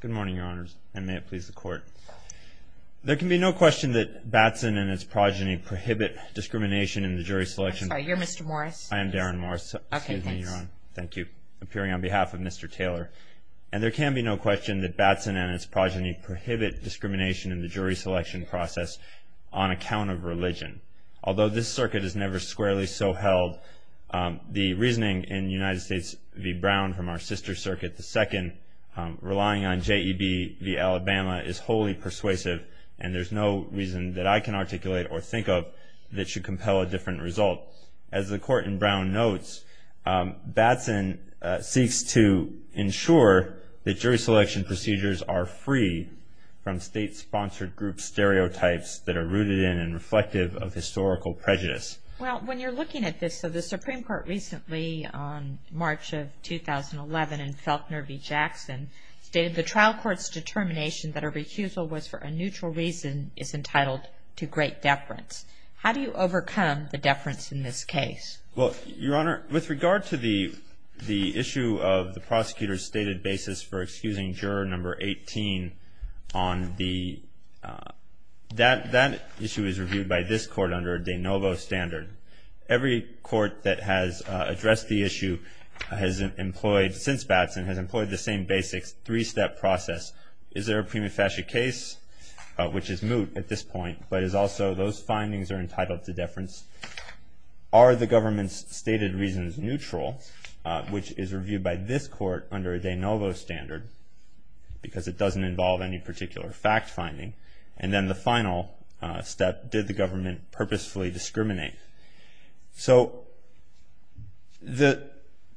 Good morning, your honors, and may it please the court. There can be no question that Batson and his progeny prohibit discrimination in the jury selection process. I'm sorry, you're Mr. Morris. I am Darren Morris. Excuse me, your honor. Okay, thanks. Thank you. Appearing on behalf of Mr. Taylor. And there can be no question that Batson and his progeny prohibit discrimination in the jury selection process on account of religion. Although this circuit has never squarely so held, the reasoning in United States v. Brown from our sister circuit, the second, relying on J.E.B. v. Alabama is wholly persuasive. And there's no reason that I can articulate or think of that should compel a different result. As the court in Brown notes, Batson seeks to ensure that jury selection procedures are free from state-sponsored group stereotypes that are rooted in and reflective of historical prejudice. Well, when you're looking at this, so the Supreme Court recently, on March of 2011, in Felkner v. Jackson, stated the trial court's determination that a recusal was for a neutral reason is entitled to great deference. How do you overcome the deference in this case? Well, your honor, with regard to the issue of the prosecutor's stated basis for excusing juror number 18 on the, that issue is reviewed by this court under a de novo standard. Every court that has addressed the issue has employed, since Batson, has employed the same basic three-step process. Is there a prima facie case, which is moot at this point, but is also those findings are entitled to deference? Are the government's stated reasons neutral, which is reviewed by this court under a de novo standard, because it doesn't involve any particular fact-finding? And then the final step, did the government purposefully discriminate? So the-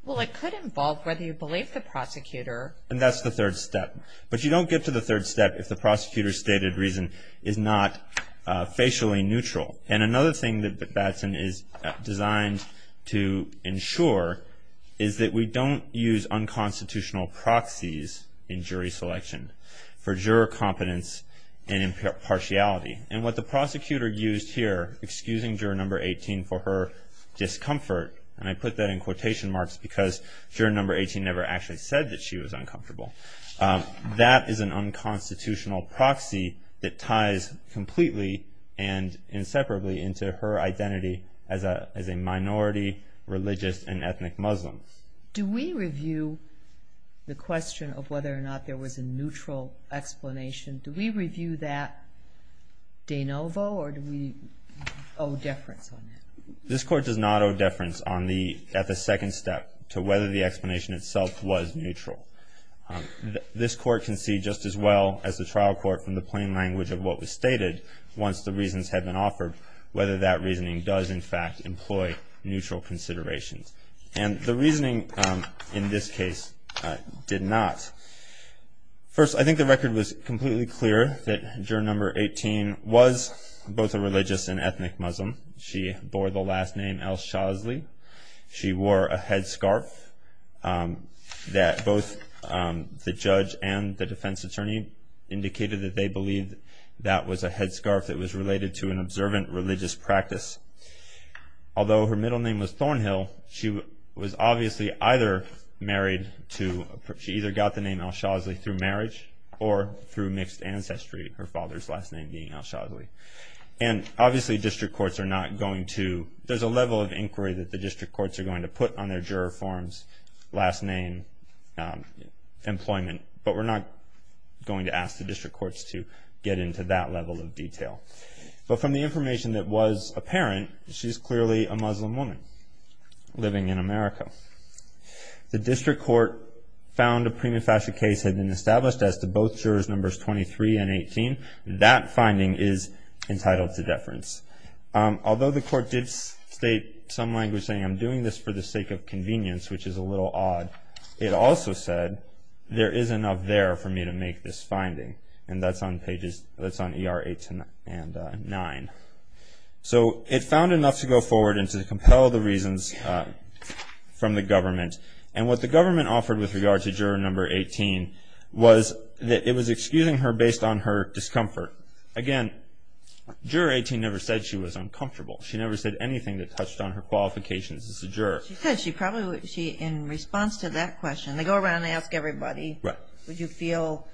Well, it could involve whether you believe the prosecutor. And that's the third step. But you don't get to the third step if the prosecutor's stated reason is not facially neutral. And another thing that Batson is designed to ensure is that we don't use unconstitutional proxies in jury selection for juror competence and impartiality. And what the prosecutor used here, excusing juror number 18 for her discomfort, and I put that in quotation marks because juror number 18 never actually said that she was uncomfortable, that is an unconstitutional proxy that ties completely and inseparably into her identity as a minority religious and ethnic Muslim. Do we review the question of whether or not there was a neutral explanation? Do we review that de novo, or do we owe deference on that? This court does not owe deference at the second step to whether the explanation itself was neutral. This court can see just as well as the trial court from the plain language of what was stated once the reasons had been offered, whether that reasoning does in fact employ neutral considerations. And the reasoning in this case did not. First, I think the record was completely clear that juror number 18 was both a religious and ethnic Muslim. She bore the last name Al-Shazly. She wore a headscarf that both the judge and the defense attorney indicated that they believed that was a headscarf that was related to an observant religious practice. Although her middle name was Thornhill, she was obviously either married to, she either got the name Al-Shazly through marriage or through mixed ancestry, her father's last name being Al-Shazly. And obviously district courts are not going to, there's a level of inquiry that the district courts are going to put on their juror forms, last name, employment, but we're not going to ask the district courts to get into that level of detail. But from the information that was apparent, she's clearly a Muslim woman living in America. The district court found a prima facie case had been established as to both jurors numbers 23 and 18. That finding is entitled to deference. Although the court did state some language saying I'm doing this for the sake of convenience, which is a little odd, it also said there is enough there for me to make this finding. And that's on pages, that's on ER 8 and 9. So it found enough to go forward and to compel the reasons from the government. And what the government offered with regard to juror number 18 was that it was excusing her based on her discomfort. Again, juror 18 never said she was uncomfortable. She never said anything that touched on her qualifications as a juror. She said she probably would, in response to that question, they go around and ask everybody, would you feel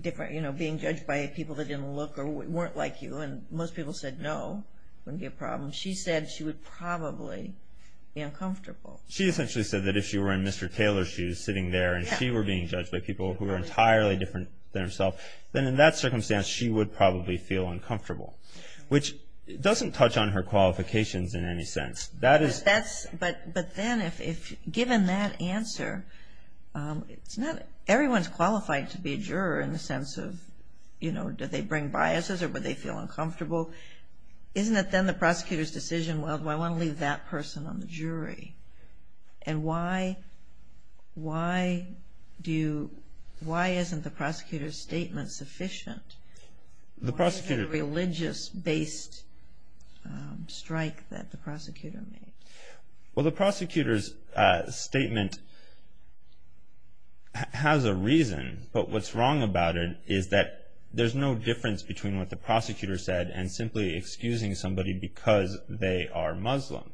different being judged by people that didn't look or weren't like you? And most people said no, wouldn't be a problem. She said she would probably be uncomfortable. She essentially said that if she were in Mr. Taylor's shoes sitting there and she were being judged by people who were entirely different than herself, then in that circumstance she would probably feel uncomfortable, which doesn't touch on her qualifications in any sense. But then if given that answer, everyone's qualified to be a juror in the sense of, you know, do they bring biases or would they feel uncomfortable? Isn't it then the prosecutor's decision, well, do I want to leave that person on the jury? And why isn't the prosecutor's statement sufficient? Why is it a religious-based strike that the prosecutor made? Well, the prosecutor's statement has a reason, but what's wrong about it is that there's no difference between what the prosecutor said and simply excusing somebody because they are Muslim.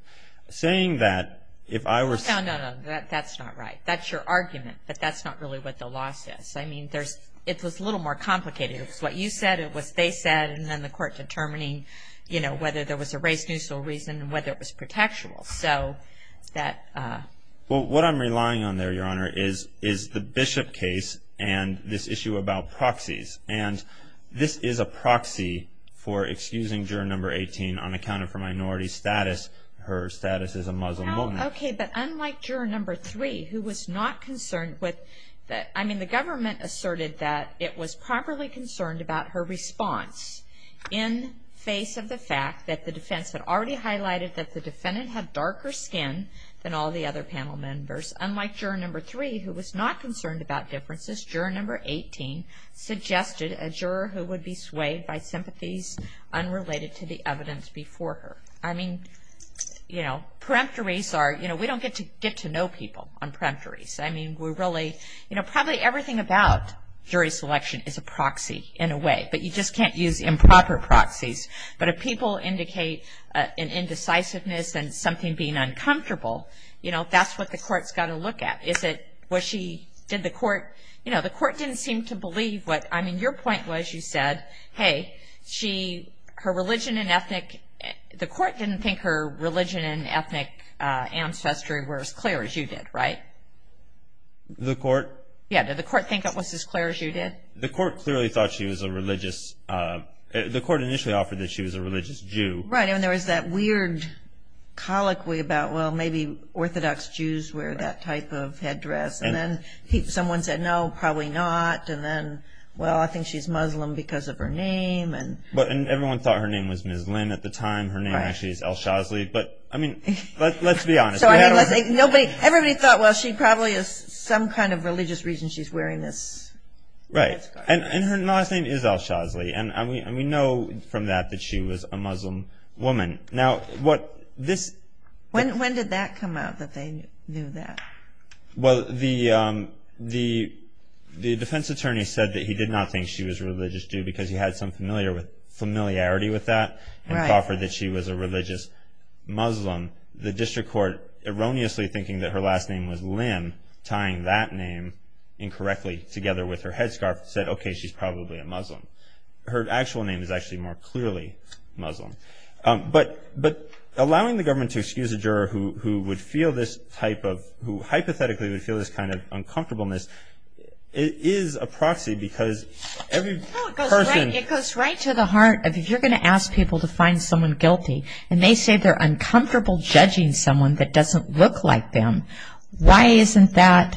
No, no, no, that's not right. That's your argument, but that's not really what the law says. I mean, it was a little more complicated. It was what you said, it was what they said, and then the court determining whether there was a race-neutral reason and whether it was protectual. Well, what I'm relying on there, Your Honor, is the Bishop case and this issue about proxies. And this is a proxy for excusing juror number 18 on account of her minority status, her status as a Muslim woman. Okay, but unlike juror number 3, who was not concerned with that. I mean, the government asserted that it was properly concerned about her response in face of the fact that the defense had already highlighted that the defendant had darker skin than all the other panel members. Unlike juror number 3, who was not concerned about differences, juror number 18 suggested a juror who would be swayed by sympathies unrelated to the evidence before her. I mean, you know, we don't get to know people on peremptories. I mean, probably everything about jury selection is a proxy in a way, but you just can't use improper proxies. But if people indicate an indecisiveness and something being uncomfortable, that's what the court's got to look at. Is it, was she, did the court, you know, the court didn't seem to believe what, I mean, your point was you said, hey, she, her religion and ethnic, the court didn't think her religion and ethnic ancestry were as clear as you did, right? The court? Yeah, did the court think it was as clear as you did? The court clearly thought she was a religious, the court initially offered that she was a religious Jew. Right, and there was that weird colloquy about, well, maybe Orthodox Jews wear that type of headdress. And then someone said, no, probably not. And then, well, I think she's Muslim because of her name. And everyone thought her name was Ms. Lynn at the time. Her name actually is Al-Shazly. But, I mean, let's be honest. Everybody thought, well, she probably is some kind of religious reason she's wearing this headscarf. Right, and her last name is Al-Shazly. And we know from that that she was a Muslim woman. When did that come out, that they knew that? Well, the defense attorney said that he did not think she was a religious Jew because he had some familiarity with that and offered that she was a religious Muslim. The district court, erroneously thinking that her last name was Lynn, tying that name incorrectly together with her headscarf, said, okay, she's probably a Muslim. Her actual name is actually more clearly Muslim. But allowing the government to excuse a juror who would feel this type of, who hypothetically would feel this kind of uncomfortableness, is a proxy because every person. It goes right to the heart of if you're going to ask people to find someone guilty and they say they're uncomfortable judging someone that doesn't look like them, why isn't that,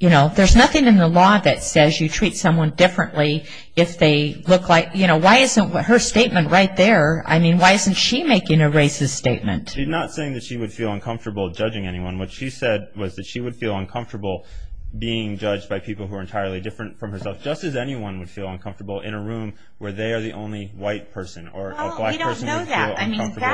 you know, there's nothing in the law that says you treat someone differently if they look like, you know, why isn't her statement right there, I mean, why isn't she making a racist statement? She's not saying that she would feel uncomfortable judging anyone. What she said was that she would feel uncomfortable being judged by people who are entirely different from herself, just as anyone would feel uncomfortable in a room where they are the only white person or a black person would feel uncomfortable. Well, we don't know that. I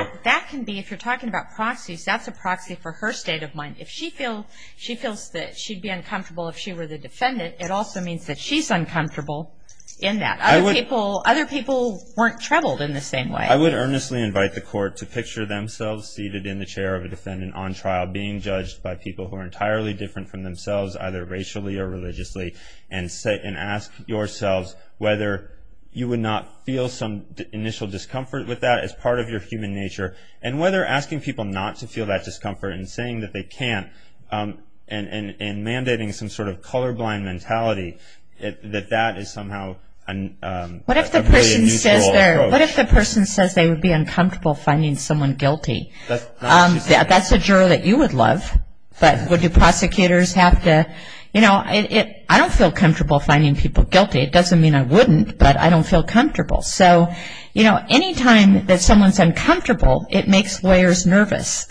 mean, that can be, if you're talking about proxies, that's a proxy for her state of mind. If she feels that she'd be uncomfortable if she were the defendant, it also means that she's uncomfortable in that. Other people weren't troubled in the same way. I would earnestly invite the court to picture themselves seated in the chair of a defendant on trial being judged by people who are entirely different from themselves, either racially or religiously, and ask yourselves whether you would not feel some initial discomfort with that as part of your human nature, and whether asking people not to feel that discomfort and saying that they can't and mandating some sort of colorblind mentality, that that is somehow a really unusual approach. What if the person says they would be uncomfortable finding someone guilty? That's not what she's saying. That's a juror that you would love. But would the prosecutors have to, you know, I don't feel comfortable finding people guilty. It doesn't mean I wouldn't, but I don't feel comfortable. So, you know, anytime that someone's uncomfortable, it makes lawyers nervous.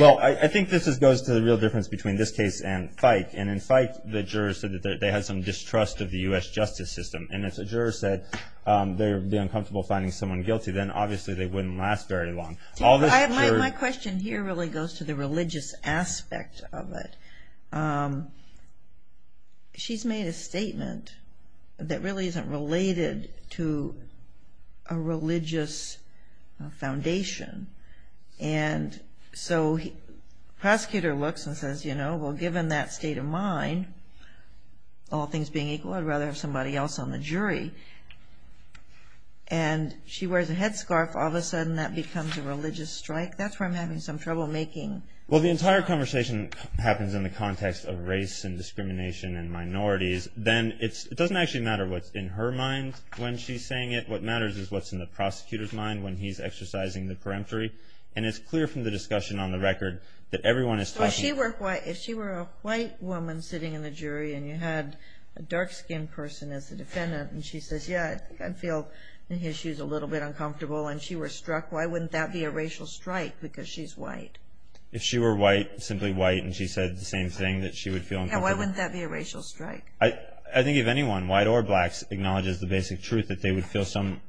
Well, I think this goes to the real difference between this case and FIKE. And in FIKE, the jurors said that they had some distrust of the U.S. justice system. And if the jurors said they would be uncomfortable finding someone guilty, then obviously they wouldn't last very long. My question here really goes to the religious aspect of it. She's made a statement that really isn't related to a religious foundation. And so the prosecutor looks and says, you know, well, given that state of mind, all things being equal, I'd rather have somebody else on the jury. And she wears a headscarf. All of a sudden that becomes a religious strike. That's where I'm having some trouble making… Well, the entire conversation happens in the context of race and discrimination and minorities. Then it doesn't actually matter what's in her mind when she's saying it. What matters is what's in the prosecutor's mind when he's exercising the peremptory. And it's clear from the discussion on the record that everyone is talking… Well, if she were a white woman sitting in the jury and you had a dark-skinned person as the defendant, and she says, yeah, I feel in his shoes a little bit uncomfortable, and she were struck, why wouldn't that be a racial strike because she's white? If she were white, simply white, and she said the same thing, that she would feel uncomfortable… Yeah, why wouldn't that be a racial strike? I think if anyone, white or blacks, acknowledges the basic truth that they would feel some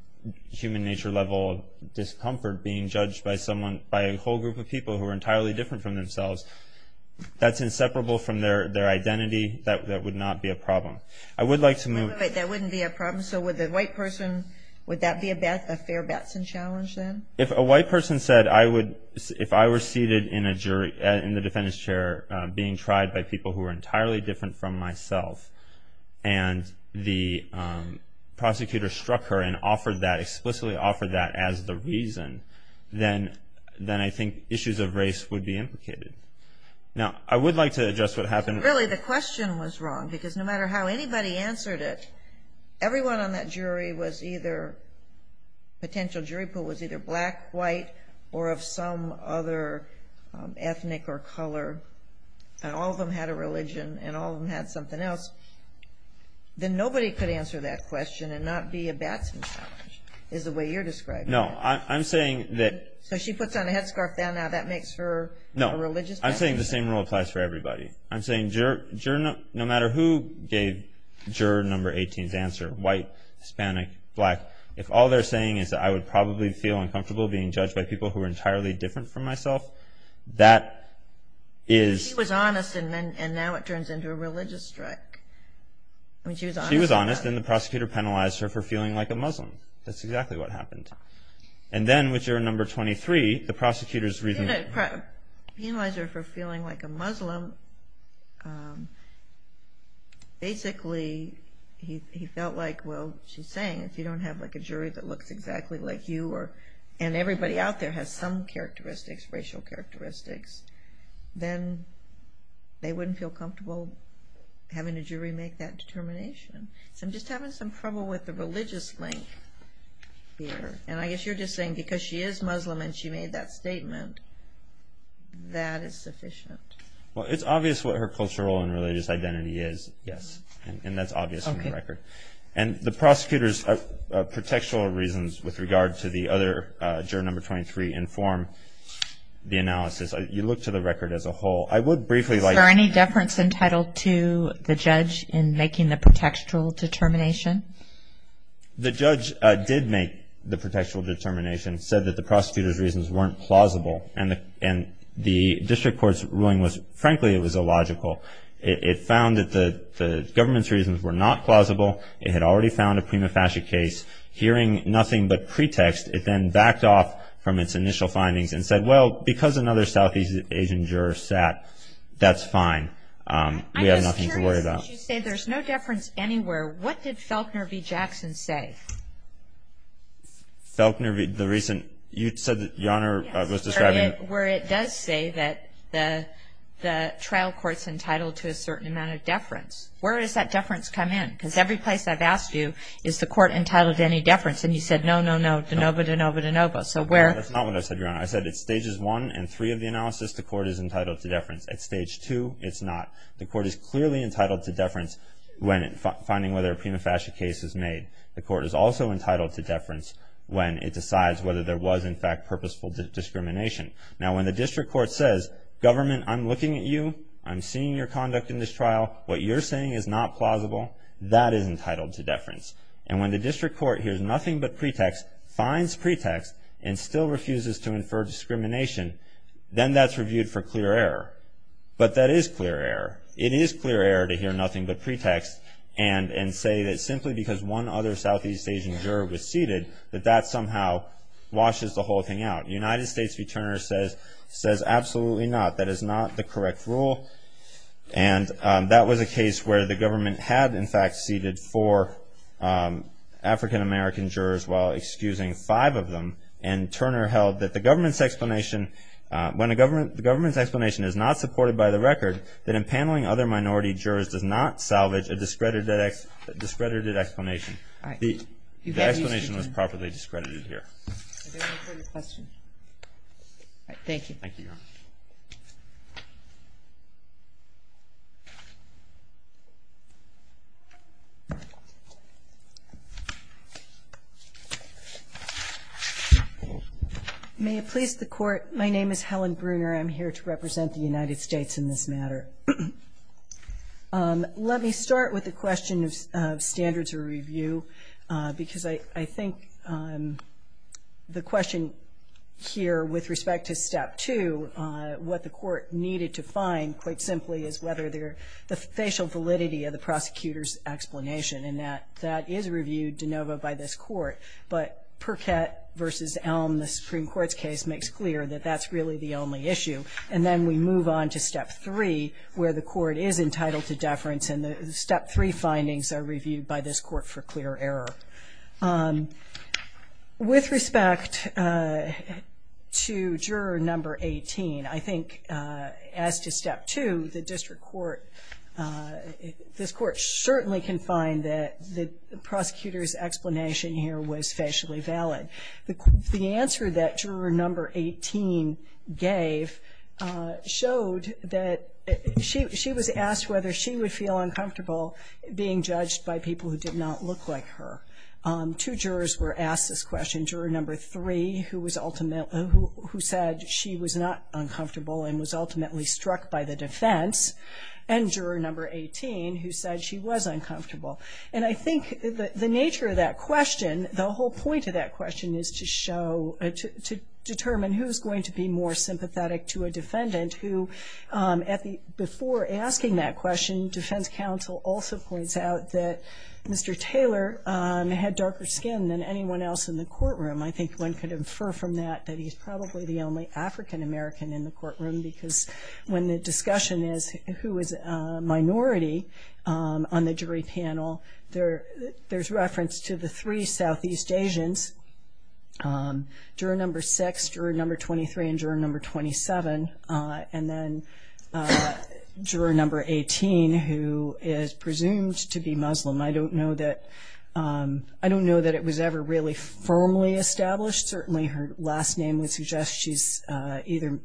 human nature-level discomfort being judged by a whole group of people who are entirely different from themselves, that's inseparable from their identity. That would not be a problem. I would like to move… That wouldn't be a problem. So would the white person, would that be a fair Batson challenge then? If a white person said, if I were seated in the defendant's chair being tried by people who are entirely different from myself and the prosecutor struck her and offered that, explicitly offered that as the reason, then I think issues of race would be implicated. Now, I would like to address what happened… Really, the question was wrong because no matter how anybody answered it, everyone on that jury was either, potential jury pool was either black, white, or of some other ethnic or color, and all of them had a religion and all of them had something else, then nobody could answer that question and not be a Batson challenge, is the way you're describing it. No, I'm saying that… So she puts on a headscarf then, now that makes her a religious person? No, I'm saying the same rule applies for everybody. I'm saying no matter who gave juror number 18's answer, white, Hispanic, black, if all they're saying is that I would probably feel uncomfortable being judged by people who are entirely different from myself, that is… She was honest and now it turns into a religious strike. She was honest and the prosecutor penalized her for feeling like a Muslim. That's exactly what happened. And then with juror number 23, the prosecutor's reason… He penalized her for feeling like a Muslim. Basically, he felt like, well, she's saying if you don't have a jury that looks exactly like you and everybody out there has some characteristics, racial characteristics, then they wouldn't feel comfortable having a jury make that determination. So I'm just having some trouble with the religious link here. And I guess you're just saying because she is Muslim and she made that statement, that is sufficient. Well, it's obvious what her cultural and religious identity is, yes. And that's obvious from the record. And the prosecutor's contextual reasons with regard to the other juror number 23 inform the analysis. You look to the record as a whole. I would briefly like… Is there any deference entitled to the judge in making the contextual determination? The judge did make the contextual determination, said that the prosecutor's reasons weren't plausible and the district court's ruling was, frankly, it was illogical. It found that the government's reasons were not plausible. It had already found a prima facie case. Hearing nothing but pretext, it then backed off from its initial findings and said, well, because another Southeast Asian juror sat, that's fine. We have nothing to worry about. I'm just curious, since you say there's no deference anywhere, what did Felkner v. Jackson say? Felkner v. the recent… You said that your Honor was describing… Where it does say that the trial court's entitled to a certain amount of deference. Where does that deference come in? Because every place I've asked you, is the court entitled to any deference? And you said, no, no, no, de novo, de novo, de novo. That's not what I said, Your Honor. I said at Stages 1 and 3 of the analysis, the court is entitled to deference. At Stage 2, it's not. The court is clearly entitled to deference when finding whether a prima facie case is made. The court is also entitled to deference when it decides whether there was, in fact, purposeful discrimination. Now, when the district court says, government, I'm looking at you, I'm seeing your conduct in this trial, what you're saying is not plausible, that is entitled to deference. And when the district court hears nothing but pretext, finds pretext, and still refuses to infer discrimination, then that's reviewed for clear error. But that is clear error. It is clear error to hear nothing but pretext and say that simply because one other Southeast Asian juror was seated, that that somehow washes the whole thing out. United States v. Turner says, absolutely not. That is not the correct rule. And that was a case where the government had, in fact, seated four African-American jurors while excusing five of them. And Turner held that the government's explanation, when the government's explanation is not supported by the record, that impaneling other minority jurors does not salvage a discredited explanation. The explanation was properly discredited here. Thank you, Your Honor. May it please the Court, my name is Helen Bruner. I'm here to represent the United States in this matter. Let me start with the question of standards of review, because I think the question here with respect to Step 2, what the Court needed to find, quite simply, is whether there are, of the prosecutor's explanation, and that that is reviewed de novo by this Court. But Perkett v. Elm, the Supreme Court's case, makes clear that that's really the only issue. And then we move on to Step 3, where the Court is entitled to deference, and the Step 3 findings are reviewed by this Court for clear error. With respect to Juror Number 18, I think as to Step 2, the District Court, this Court certainly can find that the prosecutor's explanation here was facially valid. The answer that Juror Number 18 gave showed that she was asked whether she would feel uncomfortable being judged by people who did not look like her. Two jurors were asked this question. Juror Number 3, who said she was not uncomfortable and was ultimately struck by the defense, and Juror Number 18, who said she was uncomfortable. And I think the nature of that question, the whole point of that question, is to show, to determine who's going to be more sympathetic to a defendant, who at the, before asking that question, defense counsel also points out that Mr. Taylor had darker skin than anyone else in the courtroom. I think one could infer from that that he's probably the only African American in the courtroom, because when the discussion is who is a minority on the jury panel, there's reference to the three Southeast Asians, Juror Number 6, Juror Number 23, and Juror Number 27, and then Juror Number 18, who is presumed to be Muslim. I don't know that, I don't know that it was ever really firmly established. Certainly her last name would suggest she's either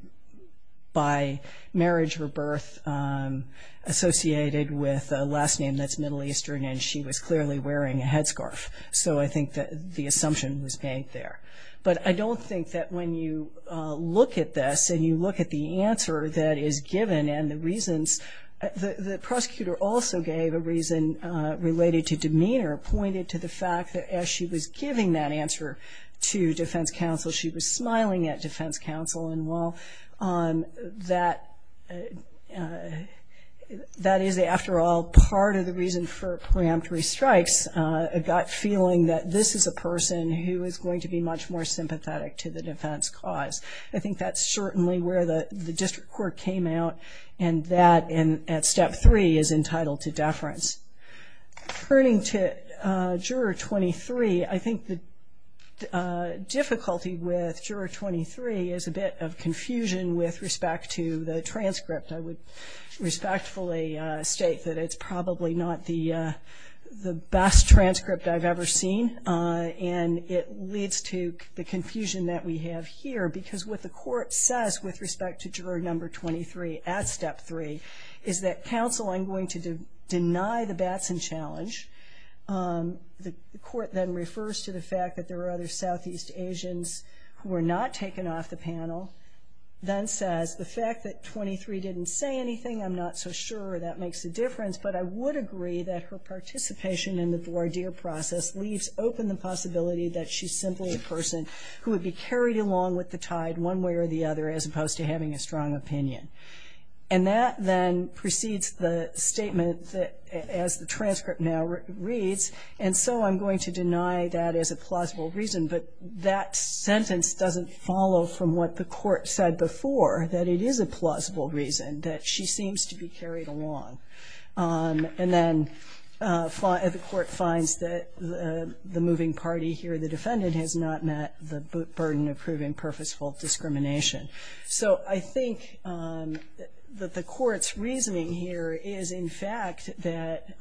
by marriage or birth, associated with a last name that's Middle Eastern, and she was clearly wearing a headscarf. So I think that the assumption was made there. But I don't think that when you look at this, and you look at the answer that is given, and the reasons, the prosecutor also gave a reason related to demeanor, pointed to the fact that as she was giving that answer to defense counsel, she was smiling at defense counsel. And while that is, after all, part of the reason for preemptory strikes, it got feeling that this is a person who is going to be much more sympathetic to the defense cause. I think that's certainly where the district court came out, and that, at Step 3, is entitled to deference. Turning to Juror 23, I think the difficulty with Juror 23 is a bit of confusion with respect to the transcript. I would respectfully state that it's probably not the best transcript I've ever seen, and it leads to the confusion that we have here, because what the court says with respect to Juror Number 23 at Step 3 is that counsel, I'm going to deny the Batson challenge. The court then refers to the fact that there are other Southeast Asians who were not taken off the panel, then says the fact that 23 didn't say anything, I'm not so sure that makes a difference, but I would agree that her participation in the voir dire process leaves open the possibility that she's simply a person who would be carried along with the tide one way or the other, as opposed to having a strong opinion. And that then precedes the statement as the transcript now reads, and so I'm going to deny that as a plausible reason, but that sentence doesn't follow from what the court said before, that it is a plausible reason that she seems to be carried along. And then the court finds that the moving party here, the defendant, has not met the burden of proving purposeful discrimination. So I think that the court's reasoning here is, in fact, that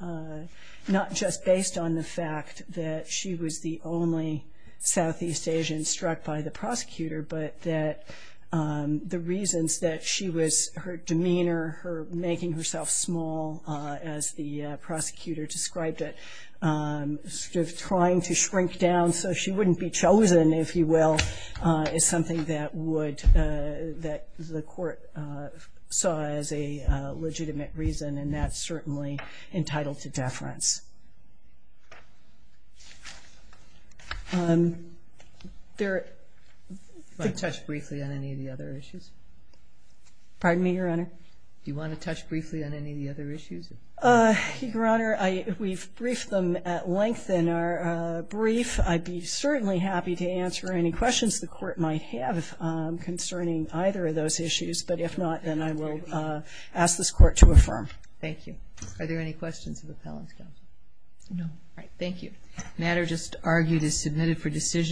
not just based on the fact that she was the only Southeast Asian struck by the prosecutor, but that the reasons that she was, her demeanor, her making herself small as the prosecutor described it, sort of trying to shrink down so she wouldn't be chosen, if you will, is something that would, that the court saw as a legitimate reason, and that's certainly entitled to deference. There... Do you want to touch briefly on any of the other issues? Pardon me, Your Honor? Do you want to touch briefly on any of the other issues? Your Honor, we've briefed them at length in our brief. I'd be certainly happy to answer any questions the court might have concerning either of those issues, but if not, then I will ask this court to affirm. Thank you. Are there any questions of the appellant's counsel? No. All right, thank you. The matter just argued is submitted for decision.